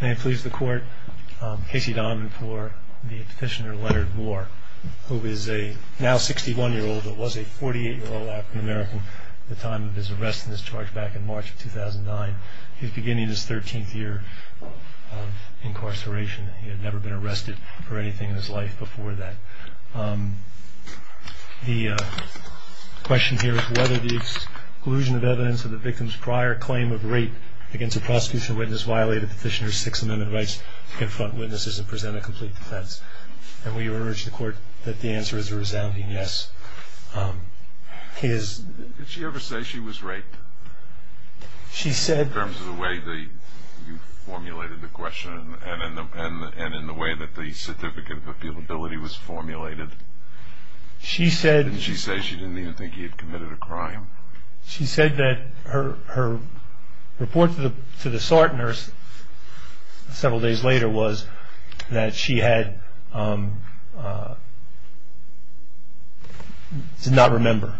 May it please the Court, Casey Donovan for the petitioner, Leonard Moore, who is a now 61-year-old, but was a 48-year-old African-American at the time of his arrest and discharge back in March of 2009. He was beginning his 13th year of incarceration. He had never been arrested for anything in his life before that. The question here is whether the exclusion of evidence of the victim's prior claim of rape against a prosecution witness violated the petitioner's Sixth Amendment rights to confront witnesses and present a complete defense. And we urge the Court that the answer is a resounding yes. Did she ever say she was raped? In terms of the way that you formulated the question and in the way that the certificate of appealability was formulated, didn't she say she didn't even think he had committed a crime? She said that her report to the SART nurse several days later was that she did not remember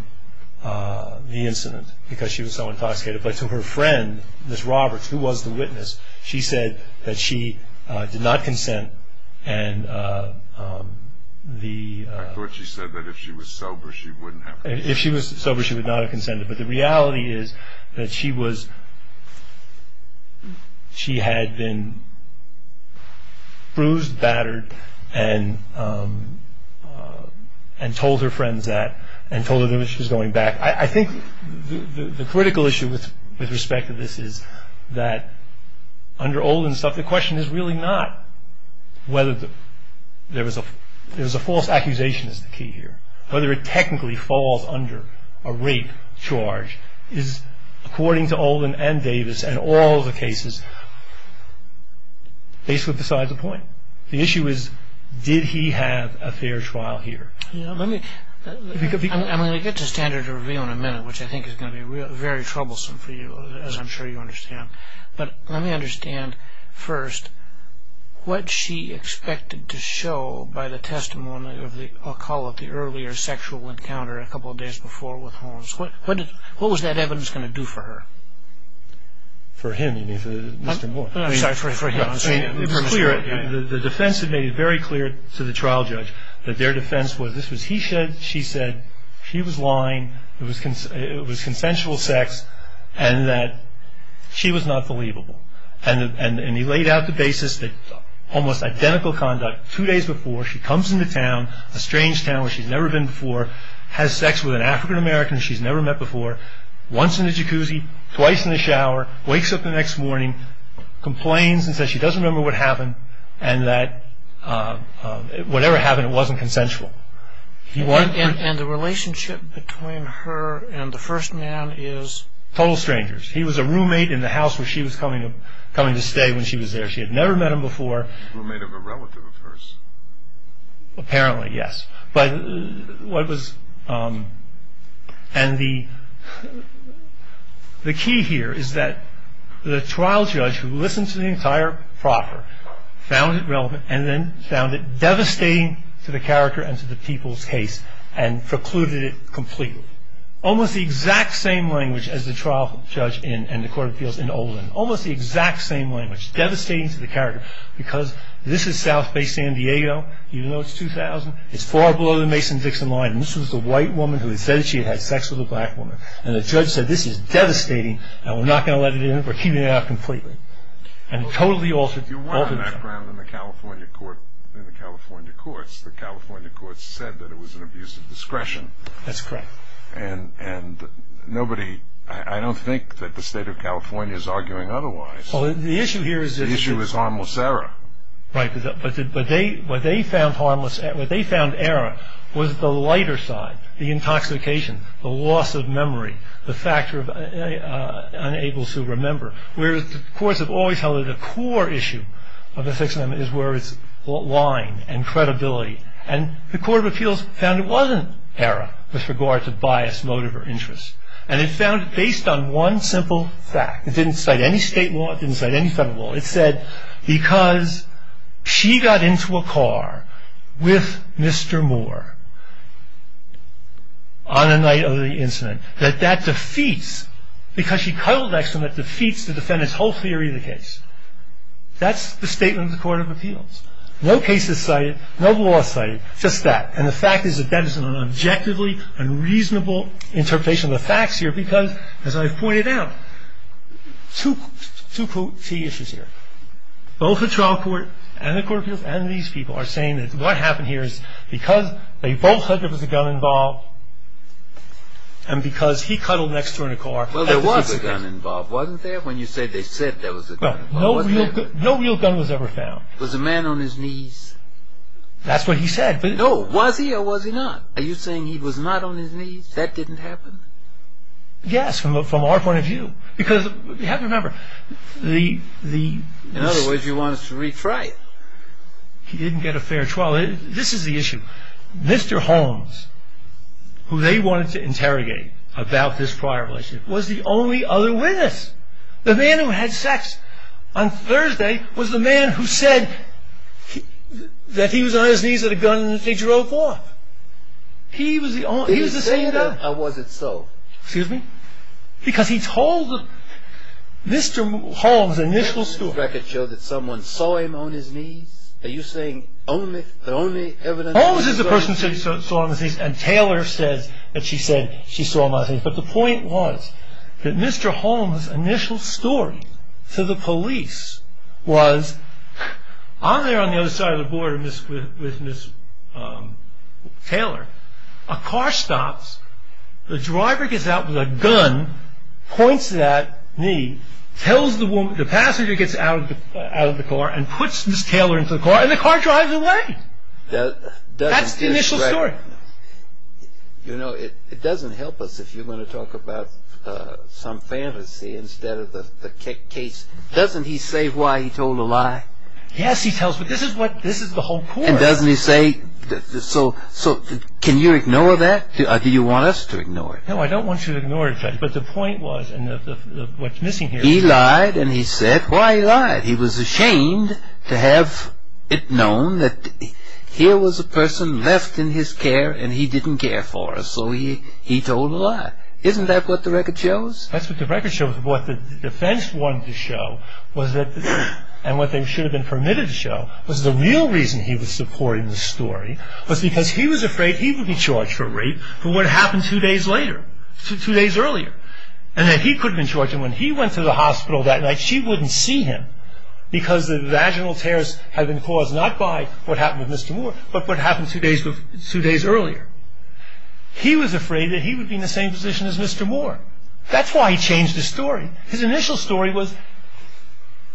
the incident because she was so intoxicated. But to her friend, Ms. Roberts, who was the witness, she said that she did not consent. I thought she said that if she was sober, she would not have consented. If she was sober, she would not have consented. But the reality is that she had been bruised, battered, and told her friends that and told them that she was going back. I think the critical issue with respect to this is that under Olden's stuff, the question is really not whether there was a false accusation is the key here. Whether it technically falls under a rape charge is, according to Olden and Davis and all the cases, basically besides the point. The issue is, did he have a fair trial here? I'm going to get to standard review in a minute, which I think is going to be very troublesome for you, as I'm sure you understand. But let me understand first what she expected to show by the testimony of the, I'll call it the earlier sexual encounter a couple of days before with Holmes. What was that evidence going to do for her? For him, you mean for Mr. Moore? The defense had made it very clear to the trial judge that their defense was, he said, she said, she was lying, it was consensual sex, and that she was not believable. And he laid out the basis that almost identical conduct, two days before, she comes into town, a strange town where she's never been before, has sex with an African American she's never met before, once in the jacuzzi, twice in the shower, wakes up the next morning, complains and says she doesn't remember what happened, and that whatever happened, it wasn't consensual. And the relationship between her and the first man is? Total strangers. He was a roommate in the house where she was coming to stay when she was there. She had never met him before. Roommate of a relative of hers? Apparently, yes. But what was, and the key here is that the trial judge who listened to the entire proffer found it relevant and then found it devastating to the character and to the people's case and precluded it completely. Almost the exact same language as the trial judge and the court of appeals in Olin. Almost the exact same language, devastating to the character, because this is South Bay, San Diego, even though it's 2000, it's far below the Mason-Dixon line, and this was a white woman who had said that she had had sex with a black woman, and the judge said, this is devastating, and we're not going to let it in, we're keeping it out completely. And totally altered the whole thing. You were on the background in the California courts. The California courts said that it was an abuse of discretion. That's correct. And nobody, I don't think that the state of California is arguing otherwise. Well, the issue here is... The issue is harmless error. Right. But what they found error was the lighter side, the intoxication, the loss of memory, the factor of unable to remember, whereas the courts have always held that the core issue of the Sixth Amendment is where it's line and credibility. And the court of appeals found it wasn't error with regard to bias, motive, or interest. And it found it based on one simple fact. It didn't cite any state law. It didn't cite any federal law. It said because she got into a car with Mr. Moore on the night of the incident, that that defeats, because she cuddled next to him, that defeats the defendant's whole theory of the case. That's the statement of the court of appeals. No cases cited, no law cited, just that. And the fact is that that is an objectively unreasonable interpretation of the facts here because, as I've pointed out, two key issues here. Both the trial court and the court of appeals and these people are saying that what happened here is because they both said there was a gun involved and because he cuddled next to her in a car. Well, there was a gun involved, wasn't there, when you say they said there was a gun involved? No real gun was ever found. Was the man on his knees? That's what he said. No, was he or was he not? Are you saying he was not on his knees? That didn't happen? Yes, from our point of view, because you have to remember the... In other words, you want us to re-try it. He didn't get a fair trial. This is the issue. Mr. Holmes, who they wanted to interrogate about this prior relationship, was the only other witness. The man who had sex on Thursday was the man who said that he was on his knees with a gun and that they drove off. He was the only... Are you saying that or was it so? Excuse me? Because he told Mr. Holmes' initial story. Does the record show that someone saw him on his knees? Are you saying the only evidence... Holmes is the person who said he saw him on his knees and Taylor says that she said she saw him on his knees. But the point was that Mr. Holmes' initial story to the police was, on there on the other side of the border with Ms. Taylor, a car stops. The driver gets out with a gun, points to that knee, tells the woman... The passenger gets out of the car and puts Ms. Taylor into the car and the car drives away. That's the initial story. You know, it doesn't help us if you're going to talk about some fantasy instead of the case. Doesn't he say why he told a lie? Yes, he tells, but this is the whole point. And doesn't he say... So, can you ignore that or do you want us to ignore it? No, I don't want you to ignore it, but the point was, and what's missing here... He lied and he said why he lied. He was ashamed to have it known that here was a person left in his care and he didn't care for her. So he told a lie. Isn't that what the record shows? That's what the record shows. What the defense wanted to show and what they should have been permitted to show was the real reason he was supporting the story was because he was afraid he would be charged for rape for what happened two days later, two days earlier. And that he could have been charged. And when he went to the hospital that night, she wouldn't see him because the vaginal tears had been caused not by what happened with Mr. Moore, but what happened two days earlier. He was afraid that he would be in the same position as Mr. Moore. That's why he changed his story. His initial story was,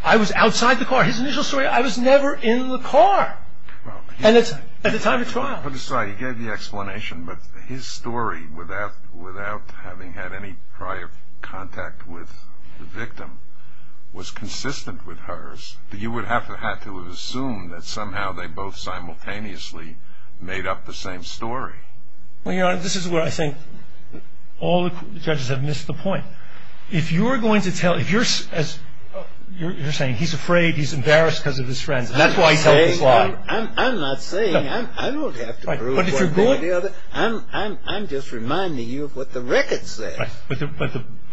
I was outside the car. His initial story, I was never in the car at the time of trial. I'm sorry, you gave the explanation, but his story, without having had any prior contact with the victim, was consistent with hers. You would have to have assumed that somehow they both simultaneously made up the same story. Well, Your Honor, this is where I think all the judges have missed the point. If you're going to tell, if you're saying he's afraid, he's embarrassed because of his friends. That's why he told this lie. I'm not saying, I don't have to prove one thing or the other. I'm just reminding you of what the record says. But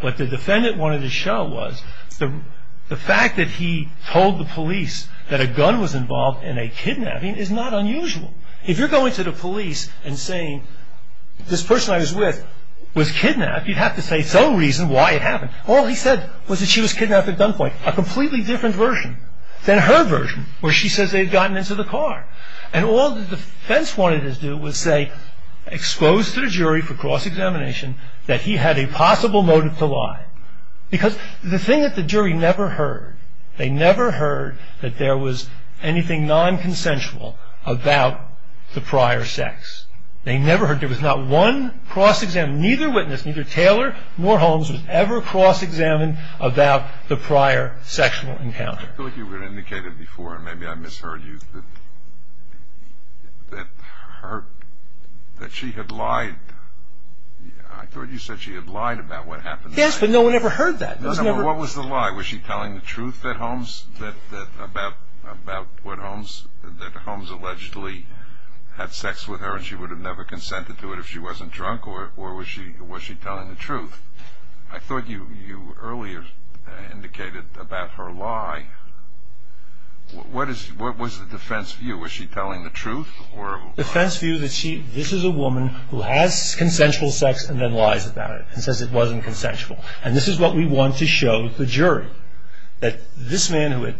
what the defendant wanted to show was the fact that he told the police that a gun was involved in a kidnapping is not unusual. If you're going to the police and saying, this person I was with was kidnapped, you'd have to say some reason why it happened. All he said was that she was kidnapped at gunpoint. A completely different version than her version, where she says they had gotten into the car. And all the defense wanted to do was say, exposed to the jury for cross-examination, that he had a possible motive to lie. Because the thing that the jury never heard, they never heard that there was anything non-consensual about the prior sex. They never heard, there was not one cross-examination, and neither witness, neither Taylor nor Holmes, was ever cross-examined about the prior sexual encounter. I feel like you indicated before, and maybe I misheard you, that she had lied. I thought you said she had lied about what happened. Yes, but no one ever heard that. No, no, what was the lie? Was she telling the truth about what Holmes, that Holmes allegedly had sex with her and she would have never consented to it if she wasn't drunk, or was she telling the truth? I thought you earlier indicated about her lie. What was the defense view? Was she telling the truth? The defense view that this is a woman who has consensual sex and then lies about it, and says it wasn't consensual. And this is what we want to show the jury, that this man who had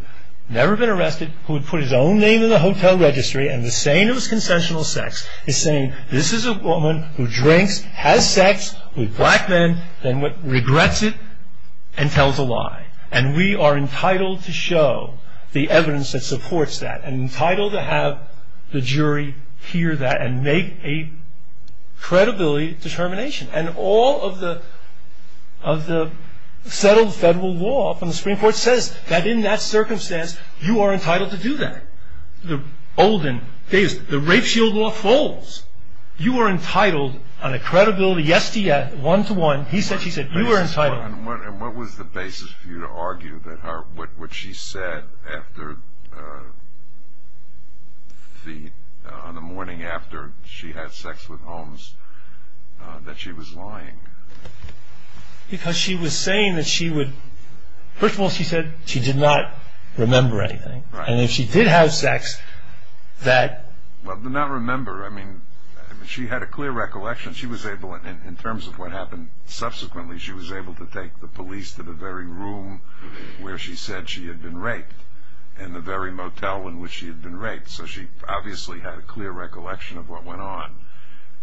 never been arrested, who had put his own name in the hotel registry, and was saying it was consensual sex, is saying this is a woman who drinks, has sex with black men, then regrets it and tells a lie. And we are entitled to show the evidence that supports that, and entitled to have the jury hear that and make a credibility determination. And all of the settled federal law from the Supreme Court says that in that circumstance, you are entitled to do that. The rape shield law folds. You are entitled on a credibility, yes to yes, one to one. He said, she said, you are entitled. And what was the basis for you to argue that what she said on the morning after she had sex with Holmes, that she was lying? Because she was saying that she would, first of all she said she did not remember anything. And if she did have sex, that... Well, not remember. I mean, she had a clear recollection. She was able, in terms of what happened subsequently, she was able to take the police to the very room where she said she had been raped, and the very motel in which she had been raped. So she obviously had a clear recollection of what went on.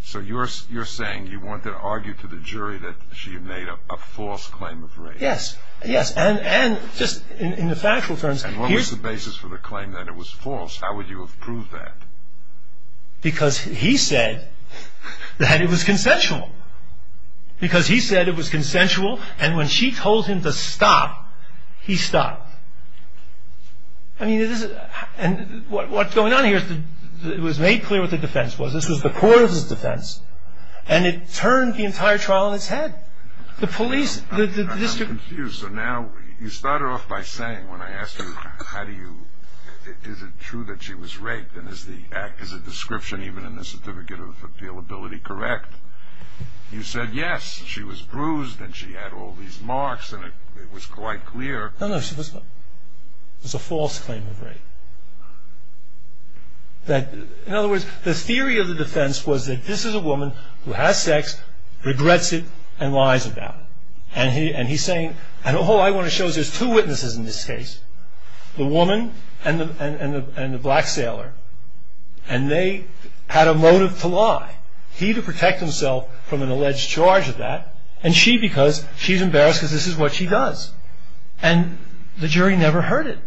So you're saying you wanted to argue to the jury that she had made a false claim of rape. Yes, yes. And just in the factual terms... And what was the basis for the claim that it was false? How would you have proved that? Because he said that it was consensual. Because he said it was consensual, and when she told him to stop, he stopped. I mean, this is... And what's going on here is that it was made clear what the defense was. This was the court's defense. And it turned the entire trial on its head. The police, the district... I'm confused. So now, you started off by saying, when I asked you, how do you... Is it true that she was raped, and is the act as a description, even in the certificate of appealability, correct? You said, yes, she was bruised, and she had all these marks, and it was quite clear. No, no, she was not. It was a false claim of rape. In other words, the theory of the defense was that this is a woman who has sex, regrets it, and lies about it. And he's saying, and all I want to show is there's two witnesses in this case, the woman and the black sailor, and they had a motive to lie. He to protect himself from an alleged charge of that, and she because she's embarrassed because this is what she does. And the jury never heard it.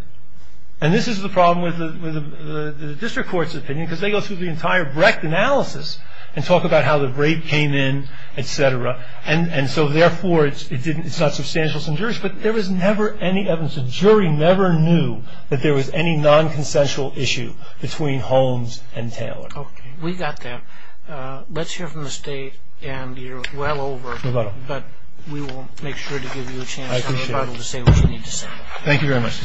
And this is the problem with the district court's opinion, because they go through the entire Brecht analysis and talk about how the rape came in, et cetera. And so, therefore, it's not substantial. But there was never any evidence. The jury never knew that there was any nonconsensual issue between Holmes and Taylor. Okay. We got that. Let's hear from the State, and you're well over. No problem. But we will make sure to give you a chance to say what you need to say. Thank you very much.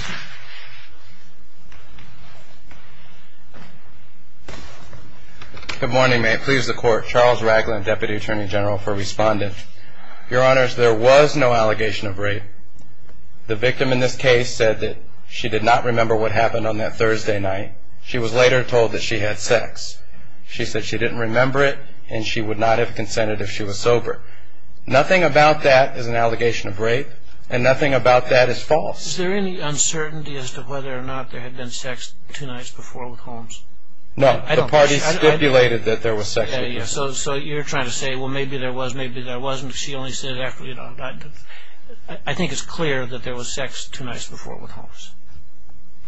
Good morning. May it please the Court. Charles Ragland, Deputy Attorney General for Respondent. Your Honors, there was no allegation of rape. The victim in this case said that she did not remember what happened on that Thursday night. She was later told that she had sex. She said she didn't remember it, and she would not have consented if she was sober. Nothing about that is an allegation of rape, and nothing about that is false. Is there any uncertainty as to whether or not there had been sex two nights before with Holmes? No. The parties stipulated that there was sex. So you're trying to say, well, maybe there was, maybe there wasn't. She only said it after, you know. I think it's clear that there was sex two nights before with Holmes.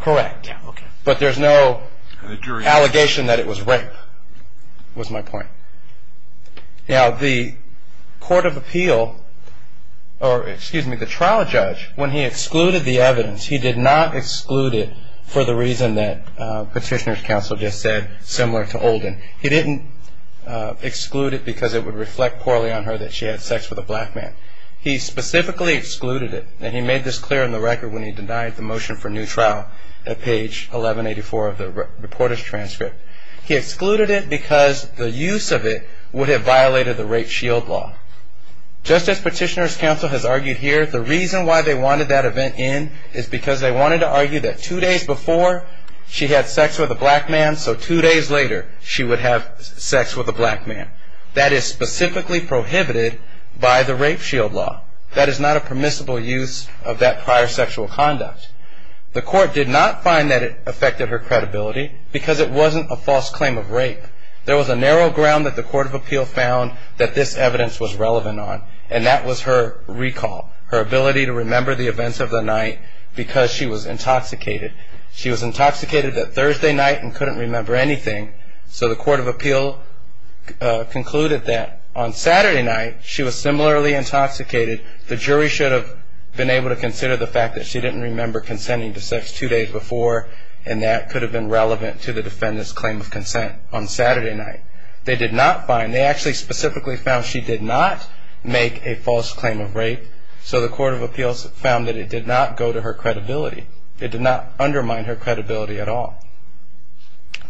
Correct. Yeah, okay. But there's no allegation that it was rape, was my point. Now, the Court of Appeal, or excuse me, the trial judge, when he excluded the evidence, he did not exclude it for the reason that Petitioner's Counsel just said, similar to Olden. He didn't exclude it because it would reflect poorly on her that she had sex with a black man. He specifically excluded it, and he made this clear in the record when he denied the motion for new trial at page 1184 of the reporter's transcript. He excluded it because the use of it would have violated the rape shield law. Just as Petitioner's Counsel has argued here, the reason why they wanted that event in is because they wanted to argue that two days before she had sex with a black man, so two days later she would have sex with a black man. That is specifically prohibited by the rape shield law. That is not a permissible use of that prior sexual conduct. The Court did not find that it affected her credibility because it wasn't a false claim of rape. There was a narrow ground that the Court of Appeal found that this evidence was relevant on, and that was her recall, her ability to remember the events of the night because she was intoxicated. She was intoxicated that Thursday night and couldn't remember anything, so the Court of Appeal concluded that on Saturday night she was similarly intoxicated. The jury should have been able to consider the fact that she didn't remember consenting to sex two days before, and that could have been relevant to the defendant's claim of consent on Saturday night. They did not find, they actually specifically found she did not make a false claim of rape, so the Court of Appeal found that it did not go to her credibility. It did not undermine her credibility at all.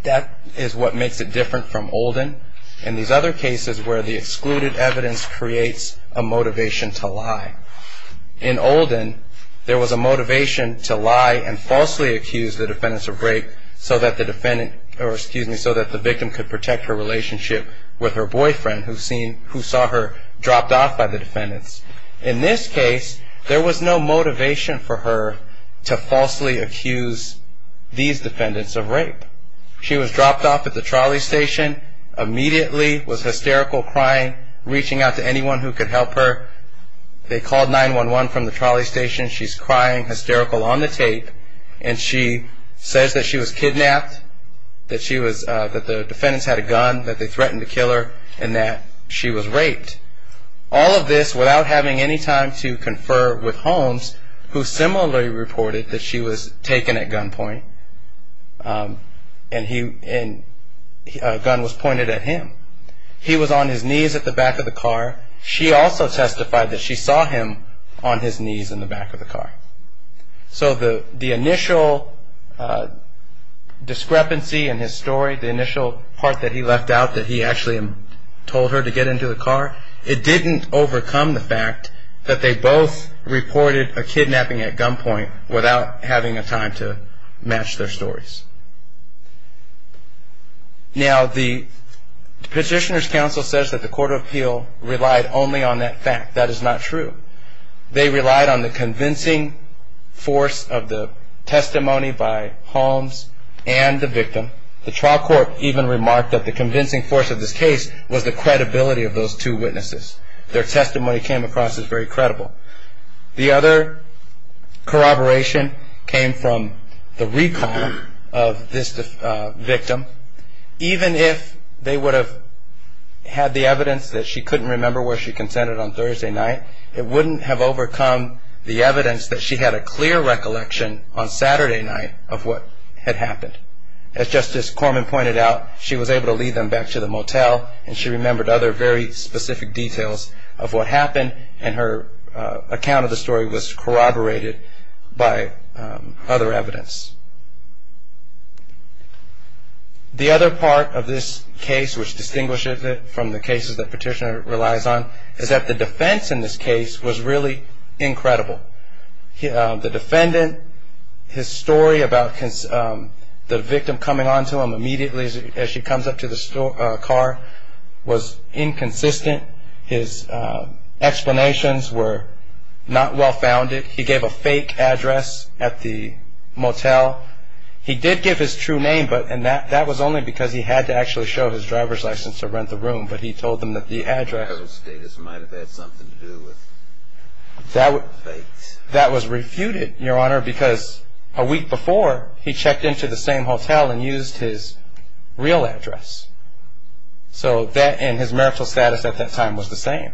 That is what makes it different from Olden and these other cases where the excluded evidence creates a motivation to lie. In Olden, there was a motivation to lie and falsely accuse the defendants of rape so that the victim could protect her relationship with her boyfriend who saw her dropped off by the defendants. In this case, there was no motivation for her to falsely accuse these defendants of rape. She was dropped off at the trolley station, immediately was hysterical, crying, reaching out to anyone who could help her. They called 911 from the trolley station, she's crying, hysterical on the tape, and she says that she was kidnapped, that the defendants had a gun, that they threatened to kill her, and that she was raped. All of this without having any time to confer with Holmes, who similarly reported that she was taken at gunpoint and a gun was pointed at him. He was on his knees at the back of the car. She also testified that she saw him on his knees in the back of the car. So the initial discrepancy in his story, the initial part that he left out, that he actually told her to get into the car, it didn't overcome the fact that they both reported a kidnapping at gunpoint without having a time to match their stories. Now, the Petitioner's Counsel says that the Court of Appeal relied only on that fact. That is not true. They relied on the convincing force of the testimony by Holmes and the victim. The trial court even remarked that the convincing force of this case was the credibility of those two witnesses. Their testimony came across as very credible. The other corroboration came from the recall of this victim. Even if they would have had the evidence that she couldn't remember where she consented on Thursday night, it wouldn't have overcome the evidence that she had a clear recollection on Saturday night of what had happened. As Justice Corman pointed out, she was able to lead them back to the motel and she remembered other very specific details of what happened and her account of the story was corroborated by other evidence. The other part of this case which distinguishes it from the cases that Petitioner relies on is that the defense in this case was really incredible. The defendant, his story about the victim coming on to him immediately as she comes up to the car, was inconsistent, his explanations were not well-founded, he gave a fake address at the motel. He did give his true name, but that was only because he had to actually show his driver's license to rent the room, but he told them that the address... That was refuted, Your Honor, because a week before, he checked into the same hotel and used his real address. So that and his marital status at that time was the same,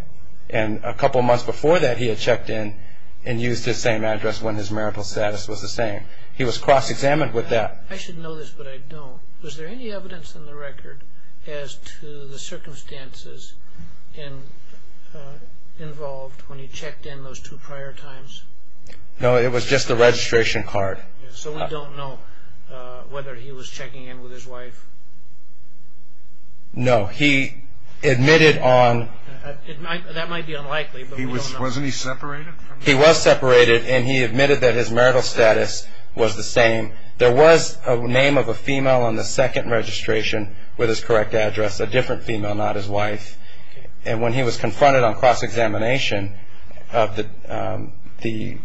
and a couple of months before that he had checked in and used his same address when his marital status was the same. He was cross-examined with that. I should know this, but I don't. Was there any evidence in the record as to the circumstances involved when he checked in those two prior times? No, it was just the registration card. So we don't know whether he was checking in with his wife? No, he admitted on... He admitted on the second registration with his correct address, a different female, not his wife, and when he was confronted on cross-examination of the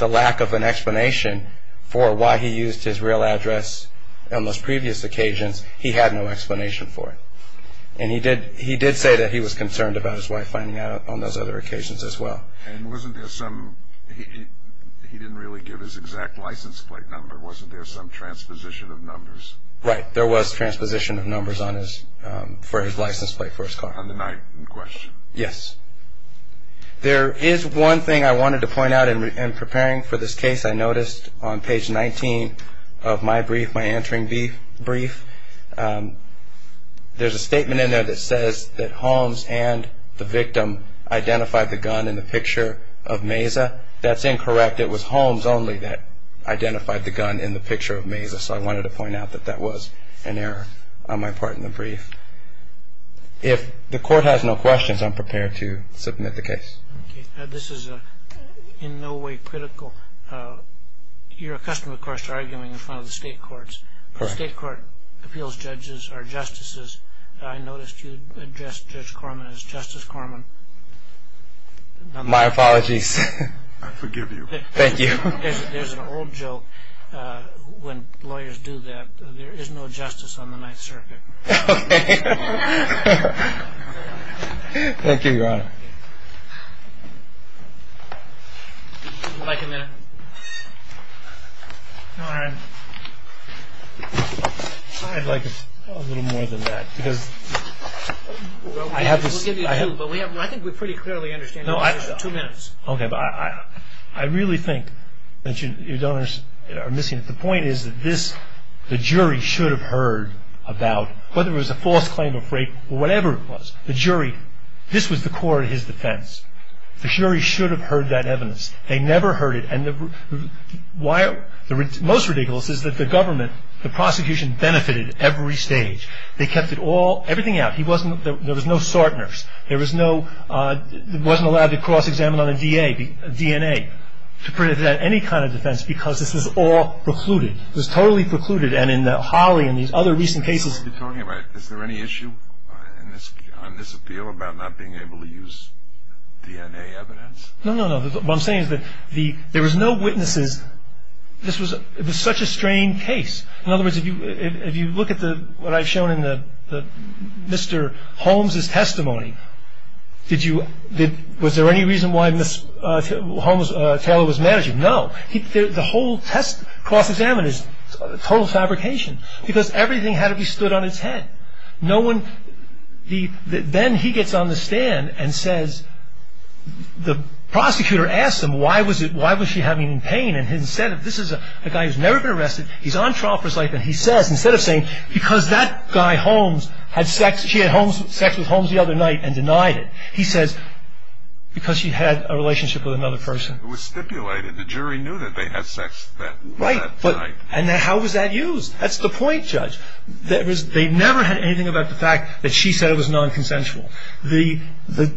lack of an explanation for why he used his real address on those previous occasions, he had no explanation for it. And he did say that he was concerned about his wife finding out on those other occasions as well. And wasn't there some... he didn't really give his exact license plate number. Wasn't there some transposition of numbers? Right, there was transposition of numbers for his license plate for his car. On the night in question? Yes. There is one thing I wanted to point out in preparing for this case. I noticed on page 19 of my brief, my entering brief, there's a statement in there that says that Holmes and the victim identified the gun in the picture of Meza. That's incorrect. It was Holmes only that identified the gun in the picture of Meza, so I wanted to point out that that was an error on my part in the brief. If the court has no questions, I'm prepared to submit the case. This is in no way critical. You're accustomed, of course, to arguing in front of the state courts. The state court appeals judges or justices. I noticed you addressed Judge Corman as Justice Corman. My apologies. I forgive you. Thank you. There's an old joke. When lawyers do that, there is no justice on the Ninth Circuit. Thank you, Your Honor. Would you like a minute? No, I'm fine. I'd like a little more than that. I think we pretty clearly understand. I really think that your donors are missing it. The point is that the jury should have heard about whether it was a false claim of rape or whatever it was. This was the core of his defense. The jury should have heard that evidence. Most ridiculous is that the prosecution benefited every stage. They kept everything out. There was no Sartners. There was no cross-examination of DNA. This was all precluded. Is there any issue on this appeal about not being able to use DNA evidence? No. There was no witnesses. It was such a strained case. In other words, if you look at what I've shown in Mr. Holmes' testimony, was there any reason why Ms. Holmes Taylor was mad at you? No. The whole cross-examination is total fabrication because everything had to be stood on its head. Then he gets on the stand and says, the prosecutor asked him, why was she having pain? He says, because that guy, Holmes, had sex with Holmes the other night and denied it. He says, because she had a relationship with another person. It was stipulated. The jury knew that they had sex that night. How was that used? That's the point, Judge. They never had anything about the fact that she said it was non-consensual. The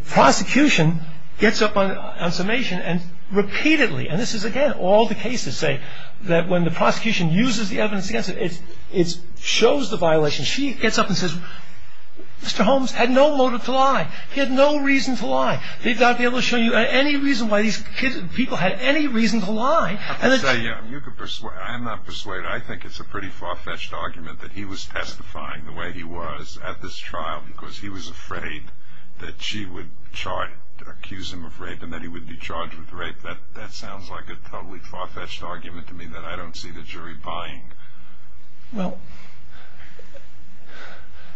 prosecution gets up on summation and repeatedly, and this is, again, all the cases say that when the prosecution uses the evidence against it, it shows the violation. She gets up and says, Mr. Holmes had no motive to lie. He had no reason to lie. They've not been able to show you any reason why these people had any reason to lie. I'm not persuaded. I think it's a pretty far-fetched argument that he was testifying the way he was at this trial because he was afraid that she would charge, accuse him of rape and that he would be charged with rape. That sounds like a totally far-fetched argument to me that I don't see the jury buying. Well,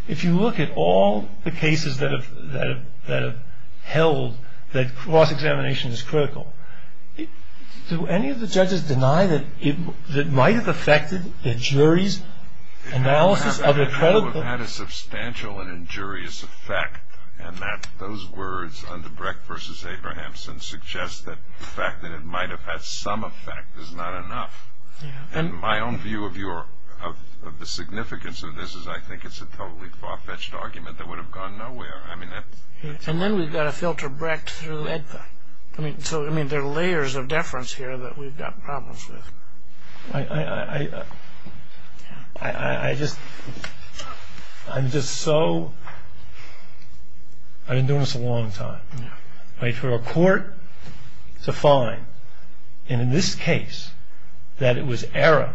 if you look at all the cases that have held that cross-examination is critical, do any of the judges deny that it might have affected the jury's analysis? It would have had a substantial and injurious effect, and those words under Brecht v. Abrahamson suggest that the fact that it might have had some effect is not enough. My own view of the significance of this is I think it's a totally far-fetched argument that would have gone nowhere. And then we've got a filter Brecht through EDPA. So there are layers of deference here that we've got problems with. I'm just so... I've been doing this a long time. For a court to find, and in this case, that it was error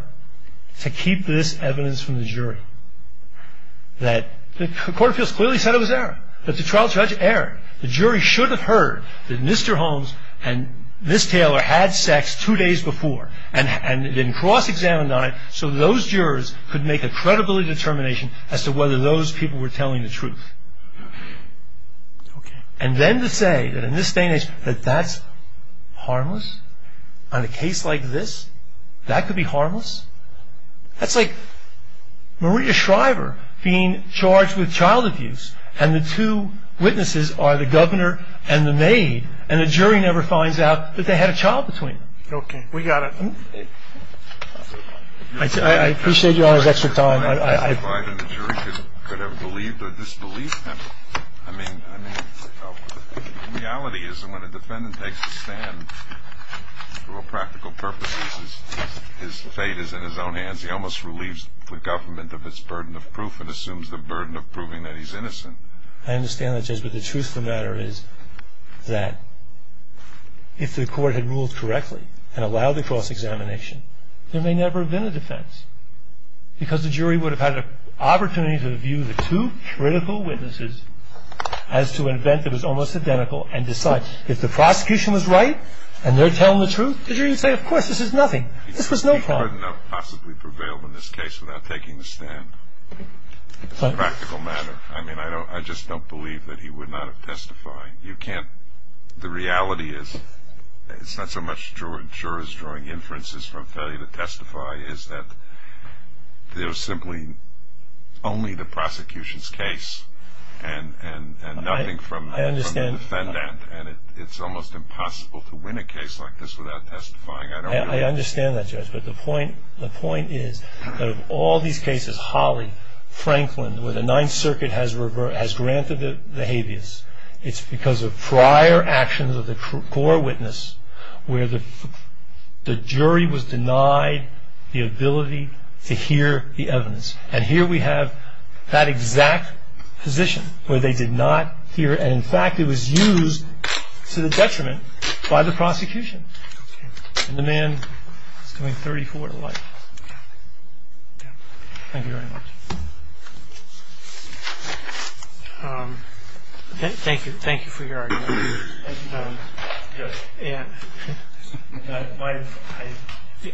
to keep this evidence from the jury, that the court of appeals clearly said it was error, that the trial judge erred. The jury should have heard that Mr. Holmes and Ms. Taylor had sex two days before and then cross-examined on it so those jurors could make a credibility determination as to whether those people were telling the truth. And then to say that in this day and age that that's harmless? On a case like this, that could be harmless? That's like Maria Shriver being charged with child abuse and the two witnesses are the governor and the maid, and the jury never finds out that they had a child between them. Okay. We got it. I appreciate Your Honor's extra time. I don't know whether the jury could have believed or disbelieved him. I mean, the reality is that when a defendant takes a stand for all practical purposes, his fate is in his own hands. He almost relieves the government of its burden of proof and assumes the burden of proving that he's innocent. I understand that, Judge, but the truth of the matter is that if the court had ruled correctly and allowed the cross-examination, there may never have been a defense because the jury would have had an opportunity to view the two critical witnesses as to an event that was almost identical and decide, if the prosecution was right and they're telling the truth, the jury would say, of course, this is nothing. This was no crime. He couldn't have possibly prevailed in this case without taking the stand. It's a practical matter. I mean, I just don't believe that he would not have testified. You can't. The reality is it's not so much jurors drawing inferences from failure to testify as that there's simply only the prosecution's case and nothing from the defendant, and it's almost impossible to win a case like this without testifying. I understand that, Judge, but the point is that of all these cases, Holly, Franklin, where the Ninth Circuit has granted the habeas, it's because of prior actions of the core witness where the jury was denied the ability to hear the evidence. And here we have that exact position where they did not hear it, and, in fact, it was used to the detriment by the prosecution. And the man is going 34 to life. Thank you very much. Thank you. Thank you for your argument.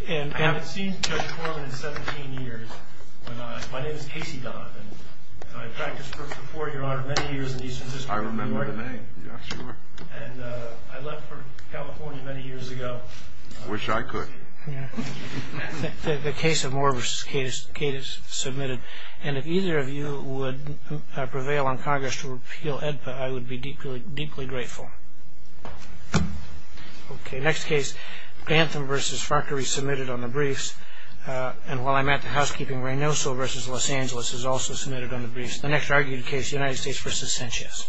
And I've seen Judge Corman in 17 years. My name is Casey Donovan. I practiced first report, Your Honor, many years in Eastern District. I remember the name. Yeah, sure. And I left for California many years ago. Wish I could. Yeah. The case of Moore v. Cadis submitted. And if either of you would prevail on Congress to repeal AEDPA, I would be deeply grateful. Okay. Next case, Bantham v. Farquharie submitted on the briefs. And while I'm at the housekeeping, Reynoso v. Los Angeles is also submitted on the briefs. The next argued case, United States v. Sanchez.